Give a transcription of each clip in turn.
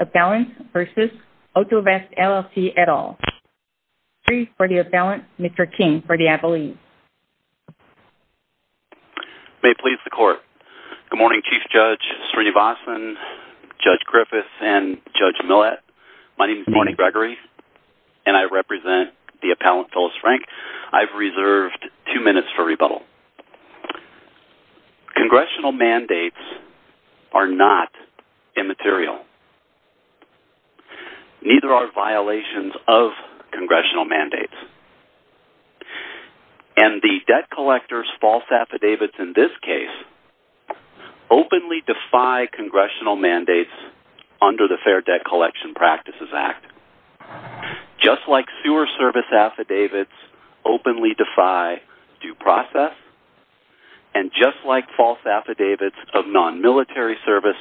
Appellant v. Autovest, LLC Mr. King v. Appellate, LLC Neither are violations of Congressional mandates. And the debt collectors' false affidavits in this case openly defy Congressional mandates under the Fair Debt Collection Practices Act. Just like sewer service affidavits openly defy due process, and just like false affidavits of non-military service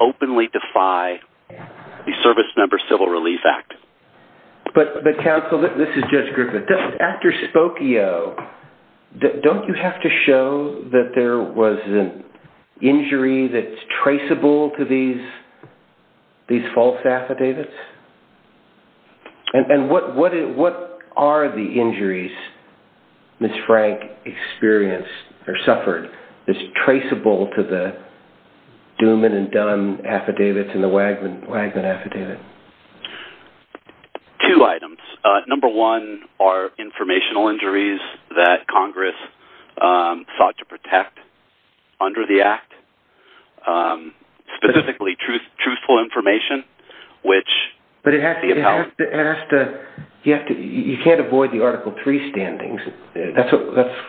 openly defy the Service Member Civil Relief Act. But Counsel, this is Judge Griffith, after Spokio, don't you have to show that there was an injury that's traceable to these false affidavits? And what are the injuries Ms. Frank experienced or suffered that's traceable to the Duman and Dunn affidavits and the Wagner affidavit? Two items. Number one are informational injuries that Congress sought to protect under the Act. Specifically truthful information. But you can't avoid the Article 3 standings. That's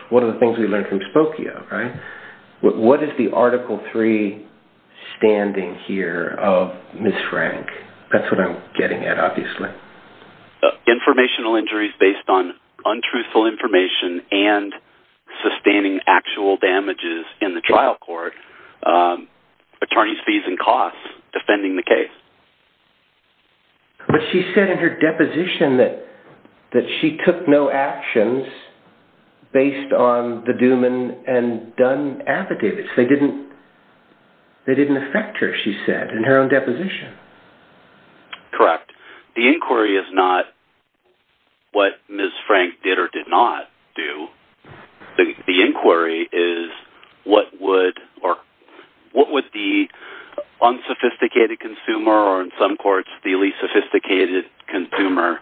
one of the things we learned from Spokio, right? What is the Article 3 standing here of Ms. Frank? That's what I'm getting at, obviously. Informational injuries based on untruthful information and sustaining actual damages in the trial court. Attorneys' fees and costs defending the case. But she said in her deposition that she took no actions based on the Duman and Dunn affidavits. They didn't affect her, she said, in her own deposition. Correct. The inquiry is not what Ms. Frank did or did not do. The inquiry is what would the unsophisticated consumer, or in some courts the least sophisticated consumer,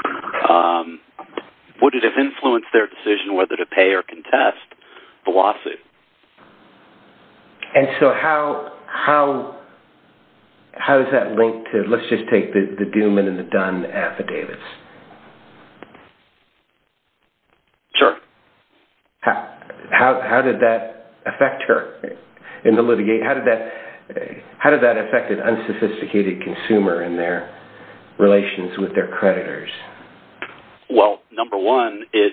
would it have influenced their decision whether to pay or contest the lawsuit? And so how is that linked to, let's just take the Duman and the Dunn affidavits? Sure. How did that affect her in the litigation? How did that affect an unsophisticated consumer in their relations with their creditors? Well, number one, it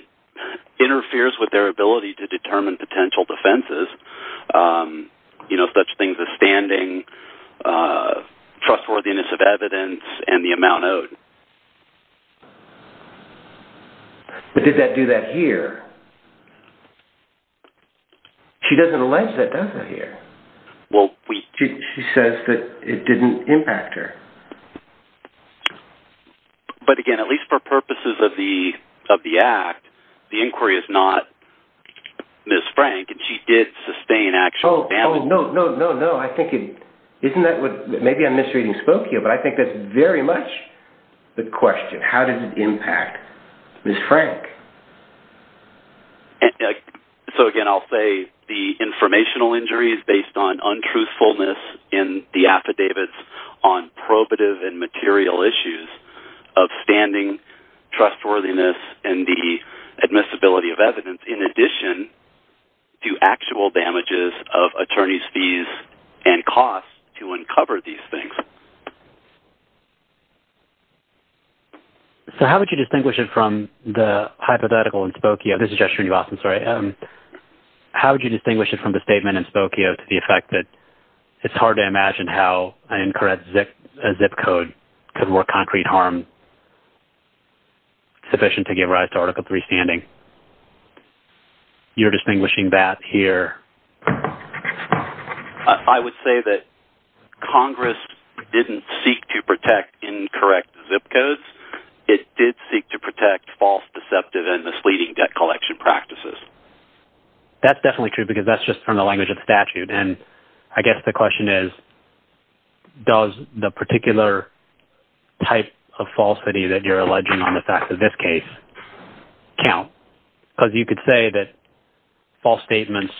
interferes with their ability to determine potential defenses, you know, such things as standing, trustworthiness of evidence, and the amount owed. But did that do that here? She doesn't allege that, does she, here? Well, we... She says that it didn't impact her. But again, at least for purposes of the Act, the inquiry is not Ms. Frank, and she did sustain actual... Oh, no, no, no, no. I think it... Isn't that what... Maybe I'm misreading Spokio, but I think that's very much the question. How did it impact Ms. Frank? So again, I'll say the informational injury is based on untruthfulness in the affidavits, on probative and material issues of standing, trustworthiness, and the admissibility of evidence, in addition to actual damages of attorney's fees and costs to uncover these things. So how would you distinguish it from the hypothetical in Spokio? This is just for you, Austin, sorry. How would you distinguish it from the statement in Spokio to the effect that it's hard to imagine how an incorrect zip code could work concrete harm sufficient to give rise to Article III standing? You're distinguishing that here. I would say that Congress didn't seek to protect incorrect zip codes. It did seek to protect false, deceptive, and misleading debt collection practices. That's definitely true because that's just from the language of statute. And I guess the question is, does the particular type of falsity that you're alleging on the facts of this case count? Because you could say that false statements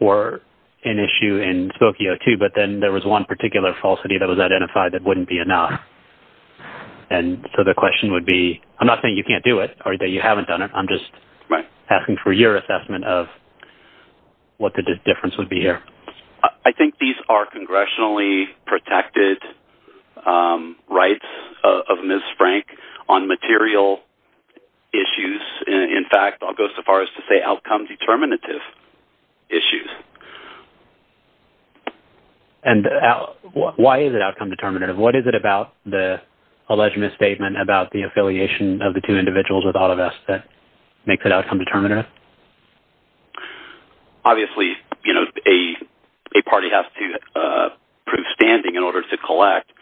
were an issue in Spokio too, but then there was one particular falsity that was identified that wouldn't be enough. And so the question would be... I'm not saying you can't do it or that you haven't done it. I'm just asking for your assessment of what the difference would be here. I think these are congressionally protected rights of Ms. Frank on material issues. In fact, I'll go so far as to say outcome determinative issues. And why is it outcome determinative? What is it about the alleged misstatement about the affiliation of the two individuals with all of us that makes it outcome determinative? Obviously, a party has to prove standing in order to collect.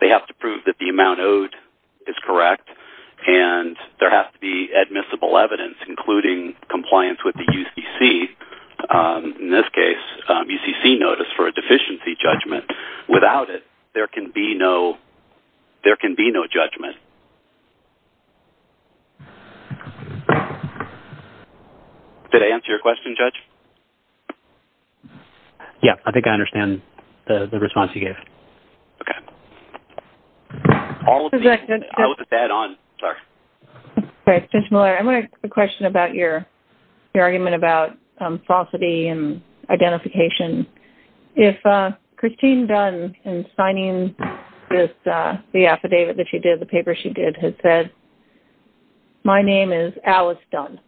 They have to prove that the amount owed is correct. And there has to be admissible evidence, including compliance with the UCC. In this case, UCC notice for a deficiency judgment. Without it, there can be no judgment. Did I answer your question, Judge? Yeah, I think I understand the response you gave. Okay. All of these... I was a tad on. Sorry. Okay, Mr. Miller, I'm going to ask a question about your argument about falsity and identification. If Christine Dunn, in signing the affidavit that she did, the paper she did, had said, my name is Alice Dunn.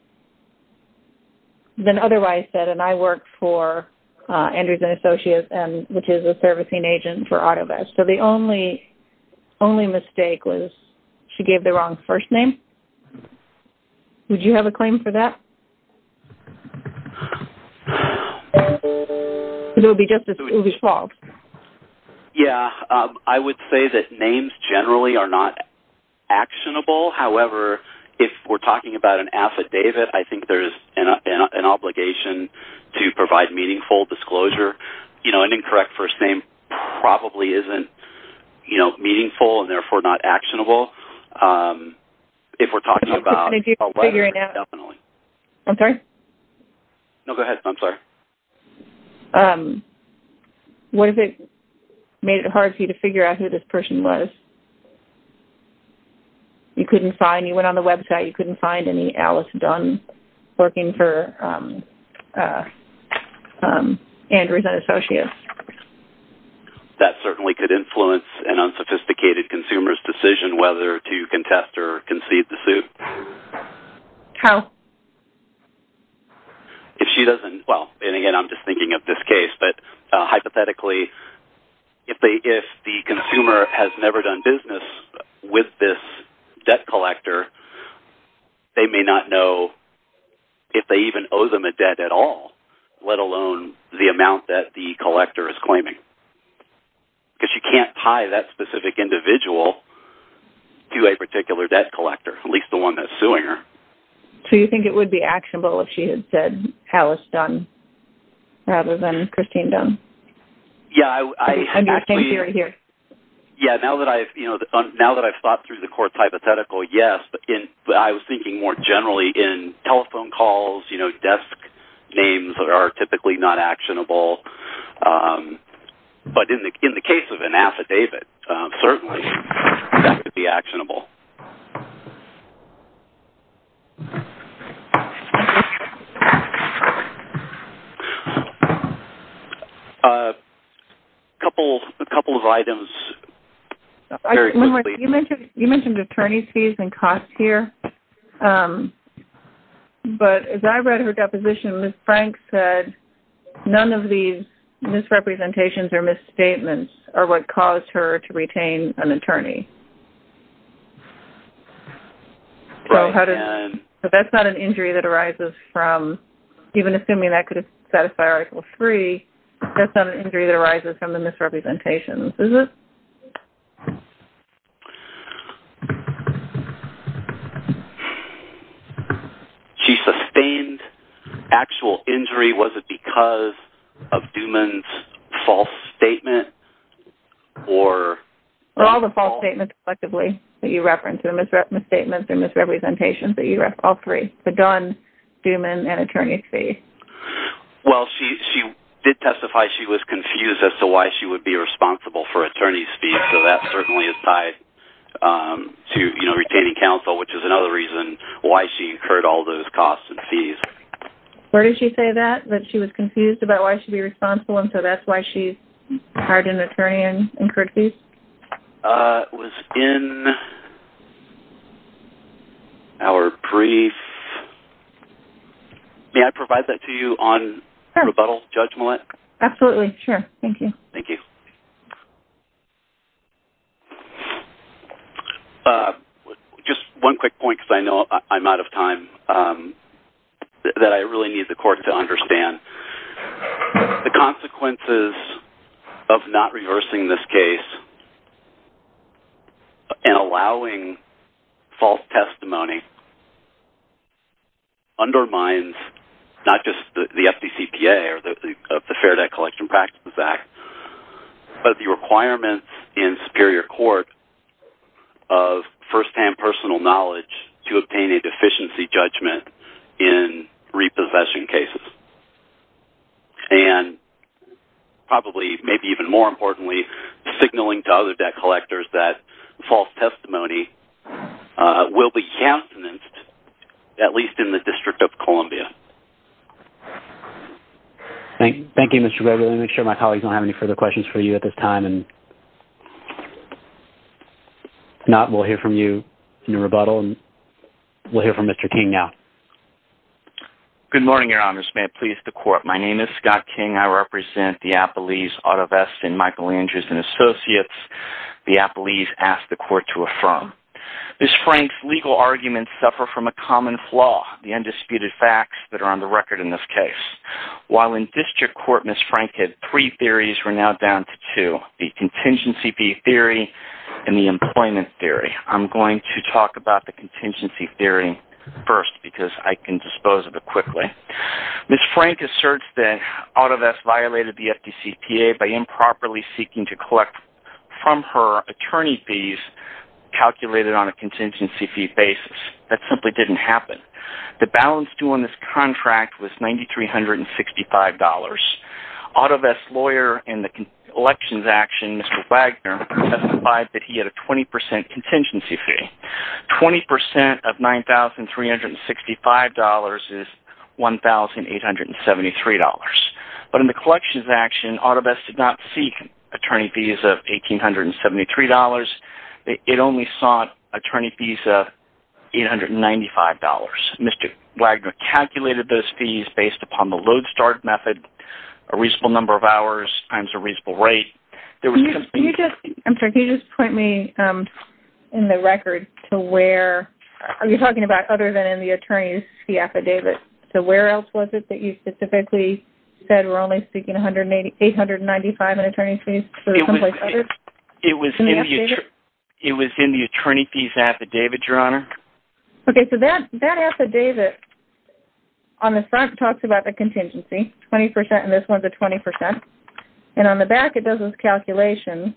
Then otherwise said, and I work for Andrews & Associates, which is a servicing agent for Autovest. So the only mistake was she gave the wrong first name? Would you have a claim for that? It would be false. Yeah, I would say that names generally are not actionable. However, if we're talking about an affidavit, I think there's an obligation to provide meaningful disclosure. An incorrect first name probably isn't meaningful and therefore not actionable. If we're talking about a letter, definitely. No, go ahead. I'm sorry. What if it made it hard for you to figure out who this person was? You couldn't find, you went on the website, you couldn't find any Alice Dunn working for Andrews & Associates. That certainly could influence an unsophisticated consumer's decision whether to contest or concede the suit. How? If she doesn't, well, and again, I'm just thinking of this case, but hypothetically, if the consumer has never done business with this debt collector, they may not know if they even owe them a debt at all, let alone the amount that the collector is claiming. Because you can't tie that specific individual to a particular debt collector, at least the one that's suing her. So you think it would be actionable if she had said Alice Dunn rather than Christine Dunn? Yeah. Yeah, now that I've thought through the court's hypothetical, yes. But I was thinking more generally in telephone calls, you know, desk names are typically not actionable. But in the case of an affidavit, certainly that could be actionable. Thank you. A couple of items. You mentioned attorney's fees and costs here. But as I read her deposition, Ms. Frank said none of these misrepresentations or misstatements are what caused her to retain an attorney. Right. So that's not an injury that arises from, even assuming that could satisfy Article III, that's not an injury that arises from the misrepresentations, is it? She sustained actual injury. Was it because of Duman's false statement or... All the false statements collectively that you referenced, the misstatements and misrepresentations that you referenced, all three, the Dunn, Duman, and attorney's fees. Well, she did testify she was confused as to why she would be responsible for attorney's fees, so that certainly is tied to retaining counsel, which is another reason why she incurred all those costs and fees. Where did she say that, that she was confused about why she'd be responsible and so that's why she hired an attorney and incurred fees? It was in our brief. May I provide that to you on rebuttal, Judge Millett? Absolutely, sure. Thank you. Thank you. Just one quick point, because I know I'm out of time, that I really need the court to understand. The consequences of not reversing this case and allowing false testimony undermines not just the FDCPA or the Fair Debt Collection Practices Act, but the requirements in superior court of first-hand personal knowledge to obtain a deficiency judgment in repossession cases. And probably, maybe even more importantly, signaling to other debt collectors that false testimony will be countenanced, at least in the District of Columbia. Thank you, Mr. Gregory. Let me make sure my colleagues don't have any further questions for you at this time. If not, we'll hear from you in rebuttal and we'll hear from Mr. King now. Good morning, Your Honors. May it please the court, my name is Scott King. I represent the Appalese Auto Vest and Michael Andrews & Associates. The Appalese asked the court to affirm. Ms. Frank's legal arguments suffer from a common flaw, the undisputed facts that are on the record in this case. While in District Court, Ms. Frank had three theories, we're now down to two, the Contingency Fee Theory and the Employment Theory. I'm going to talk about the Contingency Fee Theory first because I can dispose of it quickly. Ms. Frank asserts that Auto Vest violated the FDCPA by improperly seeking to collect from her attorney fees calculated on a contingency fee basis. That simply didn't happen. The balance due on this contract was $9,365. Auto Vest's lawyer in the elections action, Mr. Wagner, testified that he had a 20% contingency fee. 20% of $9,365 is $1,873. But in the collections action, Auto Vest did not seek attorney fees of $1,873. It only sought attorney fees of $895. Mr. Wagner calculated those fees based upon the load start method, a reasonable number of hours times a reasonable rate. Can you just point me in the record to where, are you talking about other than in the attorney fee affidavit? So where else was it that you specifically said we're only seeking $895 in attorney fees? It was in the attorney fees affidavit, Your Honor. Okay, so that affidavit on the front talks about the contingency, 20% and this one's a 20%. And on the back it does this calculation.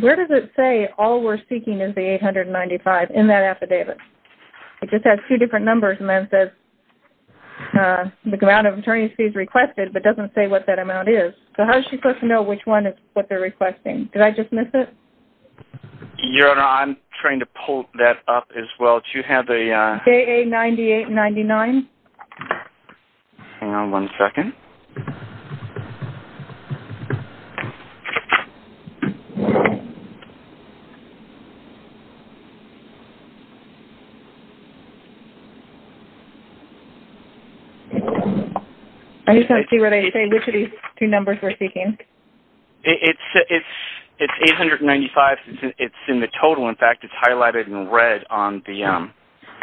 Where does it say all we're seeking is the $895 in that affidavit? It just has two different numbers and then says the amount of attorney fees requested but doesn't say what that amount is. So how is she supposed to know which one is what they're requesting? Did I just miss it? Your Honor, I'm trying to pull that up as well. Do you have the... KA-9899. Hang on one second. I just don't see where they say which of these two numbers we're seeking. It's $895. It's in the total. In fact, it's highlighted in red on the...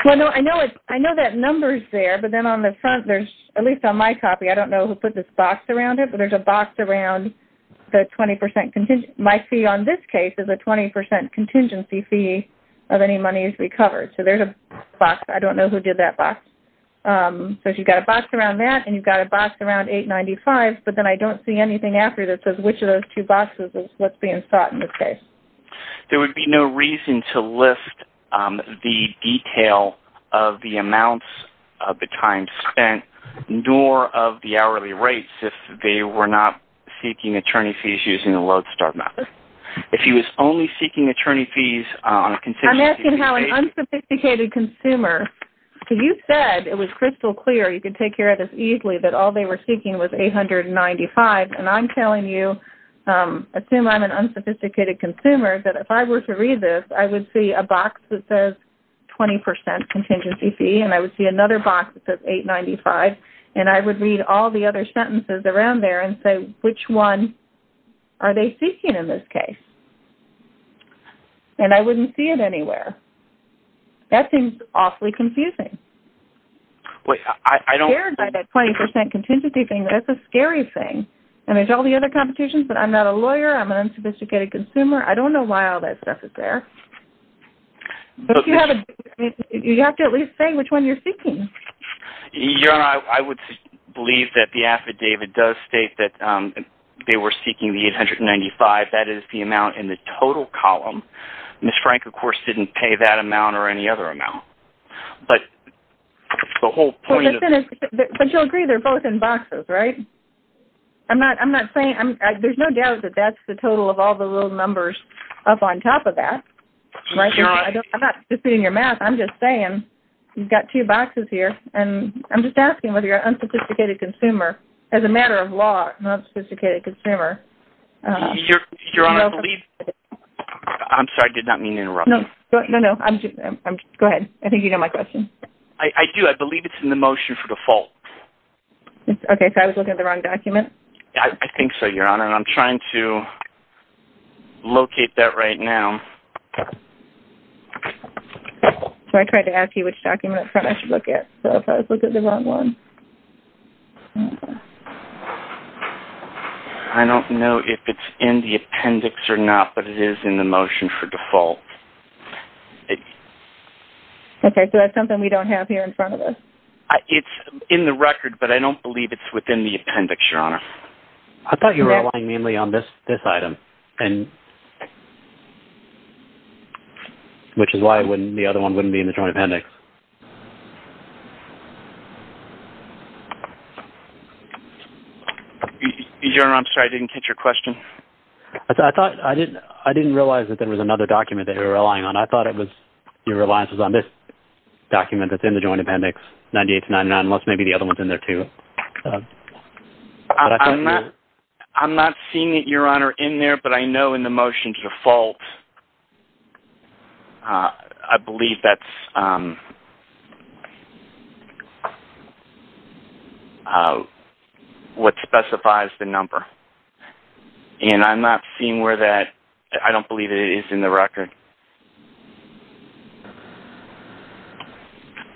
Well, no, I know that number's there, but then on the front there's, at least on my copy, I don't know who put this box around it, but there's a box around the 20% contingency. My fee on this case is a 20% contingency fee of any monies recovered. So there's a box. I don't know who did that box. So you've got a box around that and you've got a box around $895, but then I don't see anything after that that says which of those two boxes is what's being sought in this case. There would be no reason to list the detail of the amounts of the time spent nor of the hourly rates if they were not seeking attorney fees using the Lodestar method. If he was only seeking attorney fees on a contingency fee... I'm asking how an unsophisticated consumer... So you said it was crystal clear, you could take care of this easily, that all they were seeking was $895, and I'm telling you, assume I'm an unsophisticated consumer, that if I were to read this, I would see a box that says 20% contingency fee and I would see another box that says $895 and I would read all the other sentences around there and say which one are they seeking in this case? And I wouldn't see it anywhere. That seems awfully confusing. Wait, I don't... Scared by that 20% contingency thing, that's a scary thing. And there's all the other competitions, but I'm not a lawyer, I'm an unsophisticated consumer, I don't know why all that stuff is there. But you have to at least say which one you're seeking. Your Honor, I would believe that the affidavit does state that they were seeking the $895, that is the amount in the total column. Ms. Frank, of course, didn't pay that amount or any other amount. But the whole point of... But you'll agree they're both in boxes, right? I'm not saying... There's no doubt that that's the total of all the little numbers up on top of that. Right, Your Honor? I'm not spitting in your mouth, I'm just saying you've got two boxes here and I'm just asking whether you're an unsophisticated consumer, as a matter of law, an unsophisticated consumer. Your Honor, I believe... I'm sorry, I did not mean to interrupt. No, no, no. Go ahead. I think you know my question. I do. I believe it's in the motion for default. Okay, so I was looking at the wrong document? I think so, Your Honor, and I'm trying to locate that right now. So I tried to ask you which document up front I should look at. So if I was looking at the wrong one... I don't know if it's in the appendix or not, but it is in the motion for default. Okay, so that's something we don't have here in front of us. It's in the record, but I don't believe it's within the appendix, Your Honor. I thought you were relying mainly on this item. Which is why the other one wouldn't be in the joint appendix. Your Honor, I'm sorry, I didn't catch your question. I didn't realize that there was another document that you were relying on. I thought your reliance was on this document that's in the joint appendix, 98-99, unless maybe the other one's in there too. I'm not seeing it, Your Honor, in there, but I know in the motion for default... I believe that's... what specifies the number. And I'm not seeing where that... I don't believe it is in the record.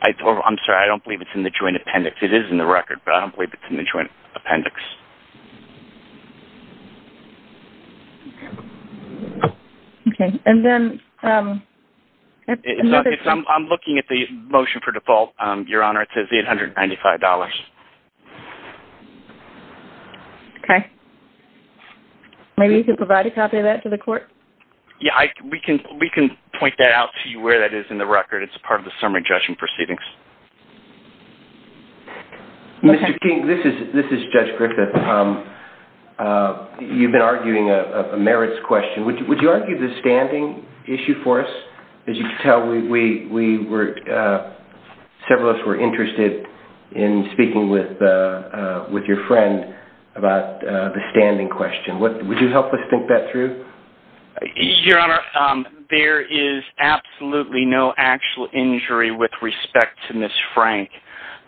I'm sorry, I don't believe it's in the joint appendix. It is in the record, but I don't believe it's in the joint appendix. I'm looking at the other one. I'm looking at the motion for default, Your Honor. It says $895. Okay. Maybe you can provide a copy of that to the court? Yeah, we can point that out to you where that is in the record. It's part of the summary judgment proceedings. Mr. King, this is Judge Griffith. You've been arguing a merits question. Would you argue the standing issue for us? As you can tell, we were... several of us were interested in speaking with your friend about the standing question. Would you help us think that through? Your Honor, there is absolutely no actual injury with respect to Ms. Frank.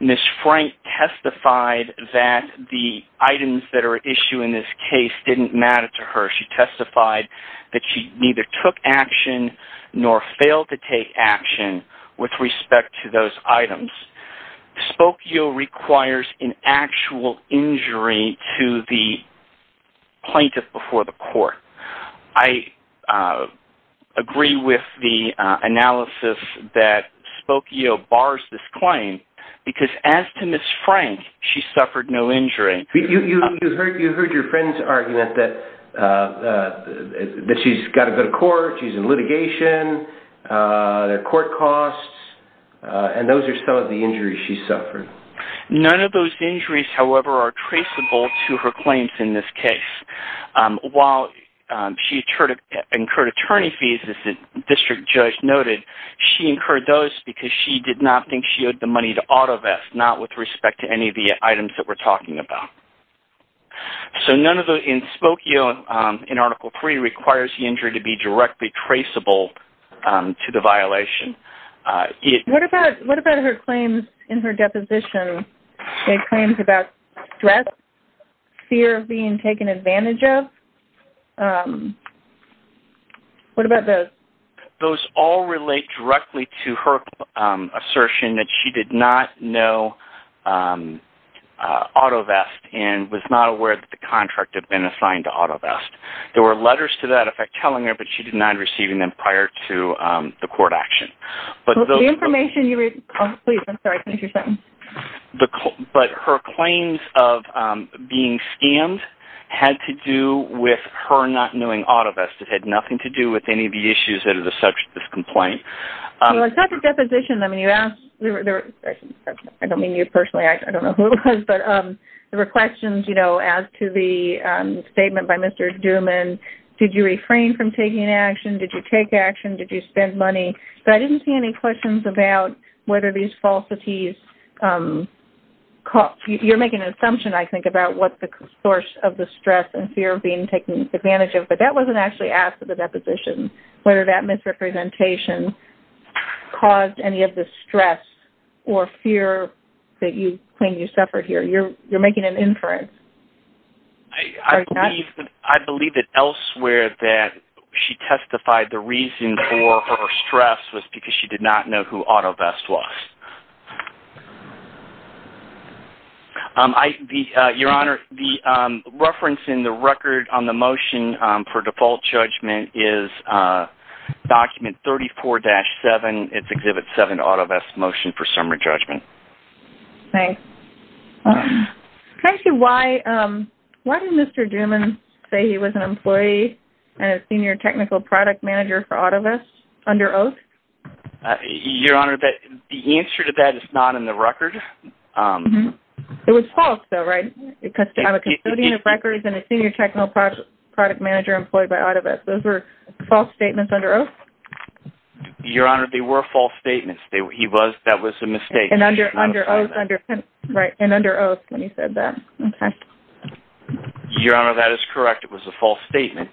Ms. Frank testified that the items that are at issue in this case didn't matter to her. She testified that she neither took action nor failed to take action with respect to those items. Spokio requires an actual injury to the plaintiff before the court. I agree with the analysis that Spokio bars this claim because as to Ms. Frank, she suffered no injury. You heard your friend's argument that she's got to go to court, she's in litigation, there are court costs, and those are some of the injuries she suffered. None of those injuries, however, are traceable to her claims in this case. While she incurred attorney fees, as the district judge noted, she incurred those because she did not think she owed the money to AutoVest, not with respect to any of the items that we're talking about. So none of those, in Spokio, in Article 3, requires the injury to be directly traceable to the violation. What about her claims in her deposition? Any claims about stress, fear of being taken advantage of? What about those? Those all relate directly to her assertion that she did not know AutoVest and was not aware that the contract had been assigned to AutoVest. There were letters to that effect telling her, but she denied receiving them prior to the court action. The information you read... But her claims of being scammed had to do with her not knowing AutoVest. It had nothing to do with any of the issues that are the subject of this complaint. It's not the deposition. I don't mean you personally. I don't know who it was. There were questions as to the statement by Mr. Duman. Did you refrain from taking action? Did you take action? Did you spend money? But I didn't see any questions about whether these falsities... You're making an assumption, I think, about what the source of the stress and fear of being taken advantage of, but that wasn't actually asked at the deposition. Whether that misrepresentation caused any of the stress or fear that you claim you suffered here. You're making an inference. I believe that elsewhere that she testified the reason for her stress was because she did not know who AutoVest was. Your Honor, the reference in the record on the motion for default judgment is document 34-7. It's Exhibit 7, AutoVest Motion for Summary Judgment. Thanks. Actually, why did Mr. Duman say he was an employee and a Senior Technical Product Manager for AutoVest under oath? Your Honor, the answer to that is not in the record. It was false, though, right? I'm a custodian of records and a Senior Technical Product Manager employed by AutoVest. Those were false statements under oath? Your Honor, they were false statements. That was a mistake. And under oath when he said that. Okay. Your Honor, that is correct. It was a false statement.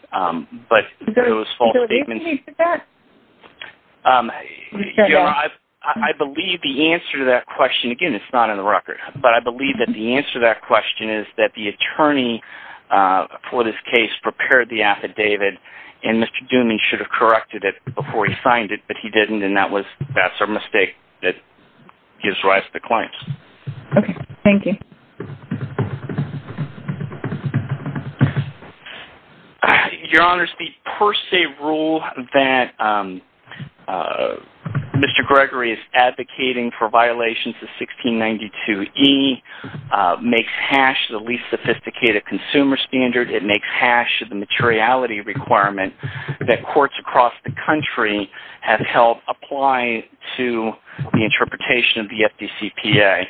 But it was false statements. I believe the answer to that question, again, it's not in the record, but I believe that the answer to that question is that the attorney for this case prepared the affidavit and Mr. Duman should have corrected it before he signed it, but he didn't, and that's a mistake that gives rise to claims. Okay. Thank you. Your Honor, the per se rule that Mr. Gregory is advocating for violations of 1692E makes HASH the least sophisticated consumer standard. It makes HASH the materiality requirement that courts across the country have helped apply to the interpretation of the FDCPA.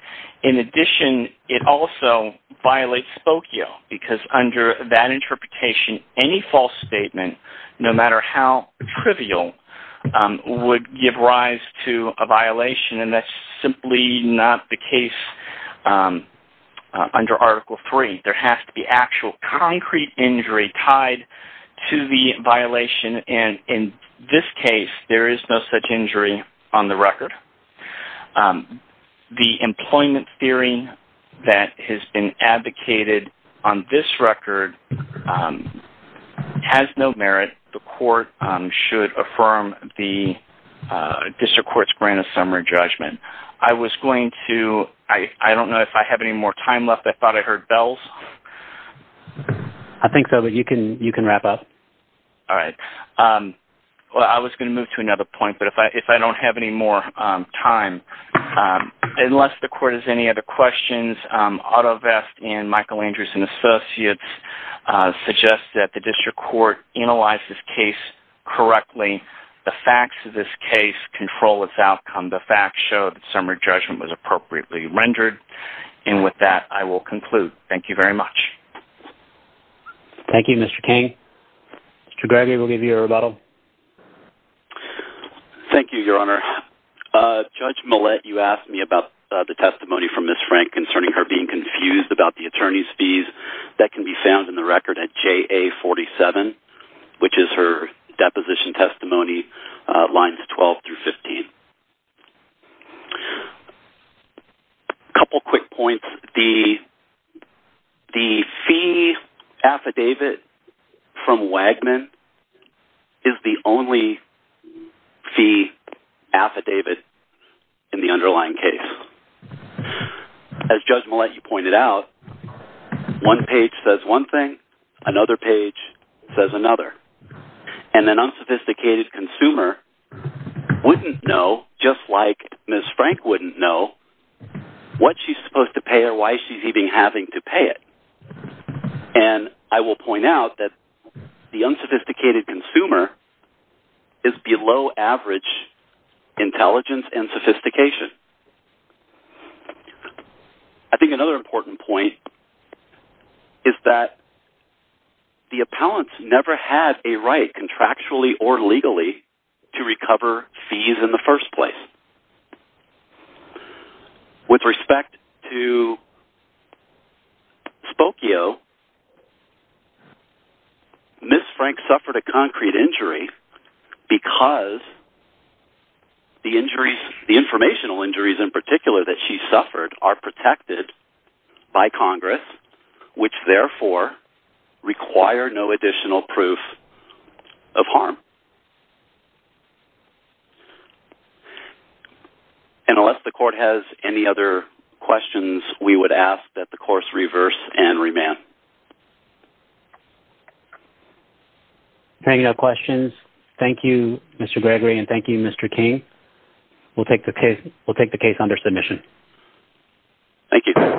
In addition, it also violates Spokio because under that interpretation, any false statement, no matter how trivial, would give rise to a violation, and that's simply not the case under Article III. There has to be actual concrete injury tied to the violation, and in this case, there is no such injury on the record. The employment theory that has been advocated on this record has no merit. The court should affirm the district court's grant of summary judgment I was going to... I don't know if I have any more time left. I thought I heard bells. I think so, but you can wrap up. All right. Well, I was going to move to another point, but if I don't have any more time, unless the court has any other questions, Otto Vest and Michael Andrews and Associates suggest that the district court analyze this case correctly. The facts of this case control its outcome. The facts show that summary judgment was appropriately rendered, and with that, I will conclude. Thank you very much. Thank you, Mr. King. Mr. Gregory, we'll give you a rebuttal. Thank you, Your Honor. Judge Millett, you asked me about the testimony from Ms. Frank concerning her being confused about the attorney's fees that can be found in the record at JA 47, which is her deposition testimony, lines 12 through 15. A couple quick points. The fee affidavit from Wagman is the only fee affidavit in the underlying case. As Judge Millett, you pointed out, one page says one thing, another page says another, and an unsophisticated consumer wouldn't know, just like Ms. Frank wouldn't know, what she's supposed to pay or why she's even having to pay it. And I will point out that the unsophisticated consumer is below average intelligence and sophistication. I think another important point is that the appellants never had a right, either contractually or legally, to recover fees in the first place. With respect to Spokio, Ms. Frank suffered a concrete injury because the informational injuries in particular that she suffered are protected by Congress, which therefore require no additional proof of harm. And unless the court has any other questions, we would ask that the course reverse and remand. There are no questions. Thank you, Mr. Gregory, and thank you, Mr. King. We'll take the case under submission. Thank you.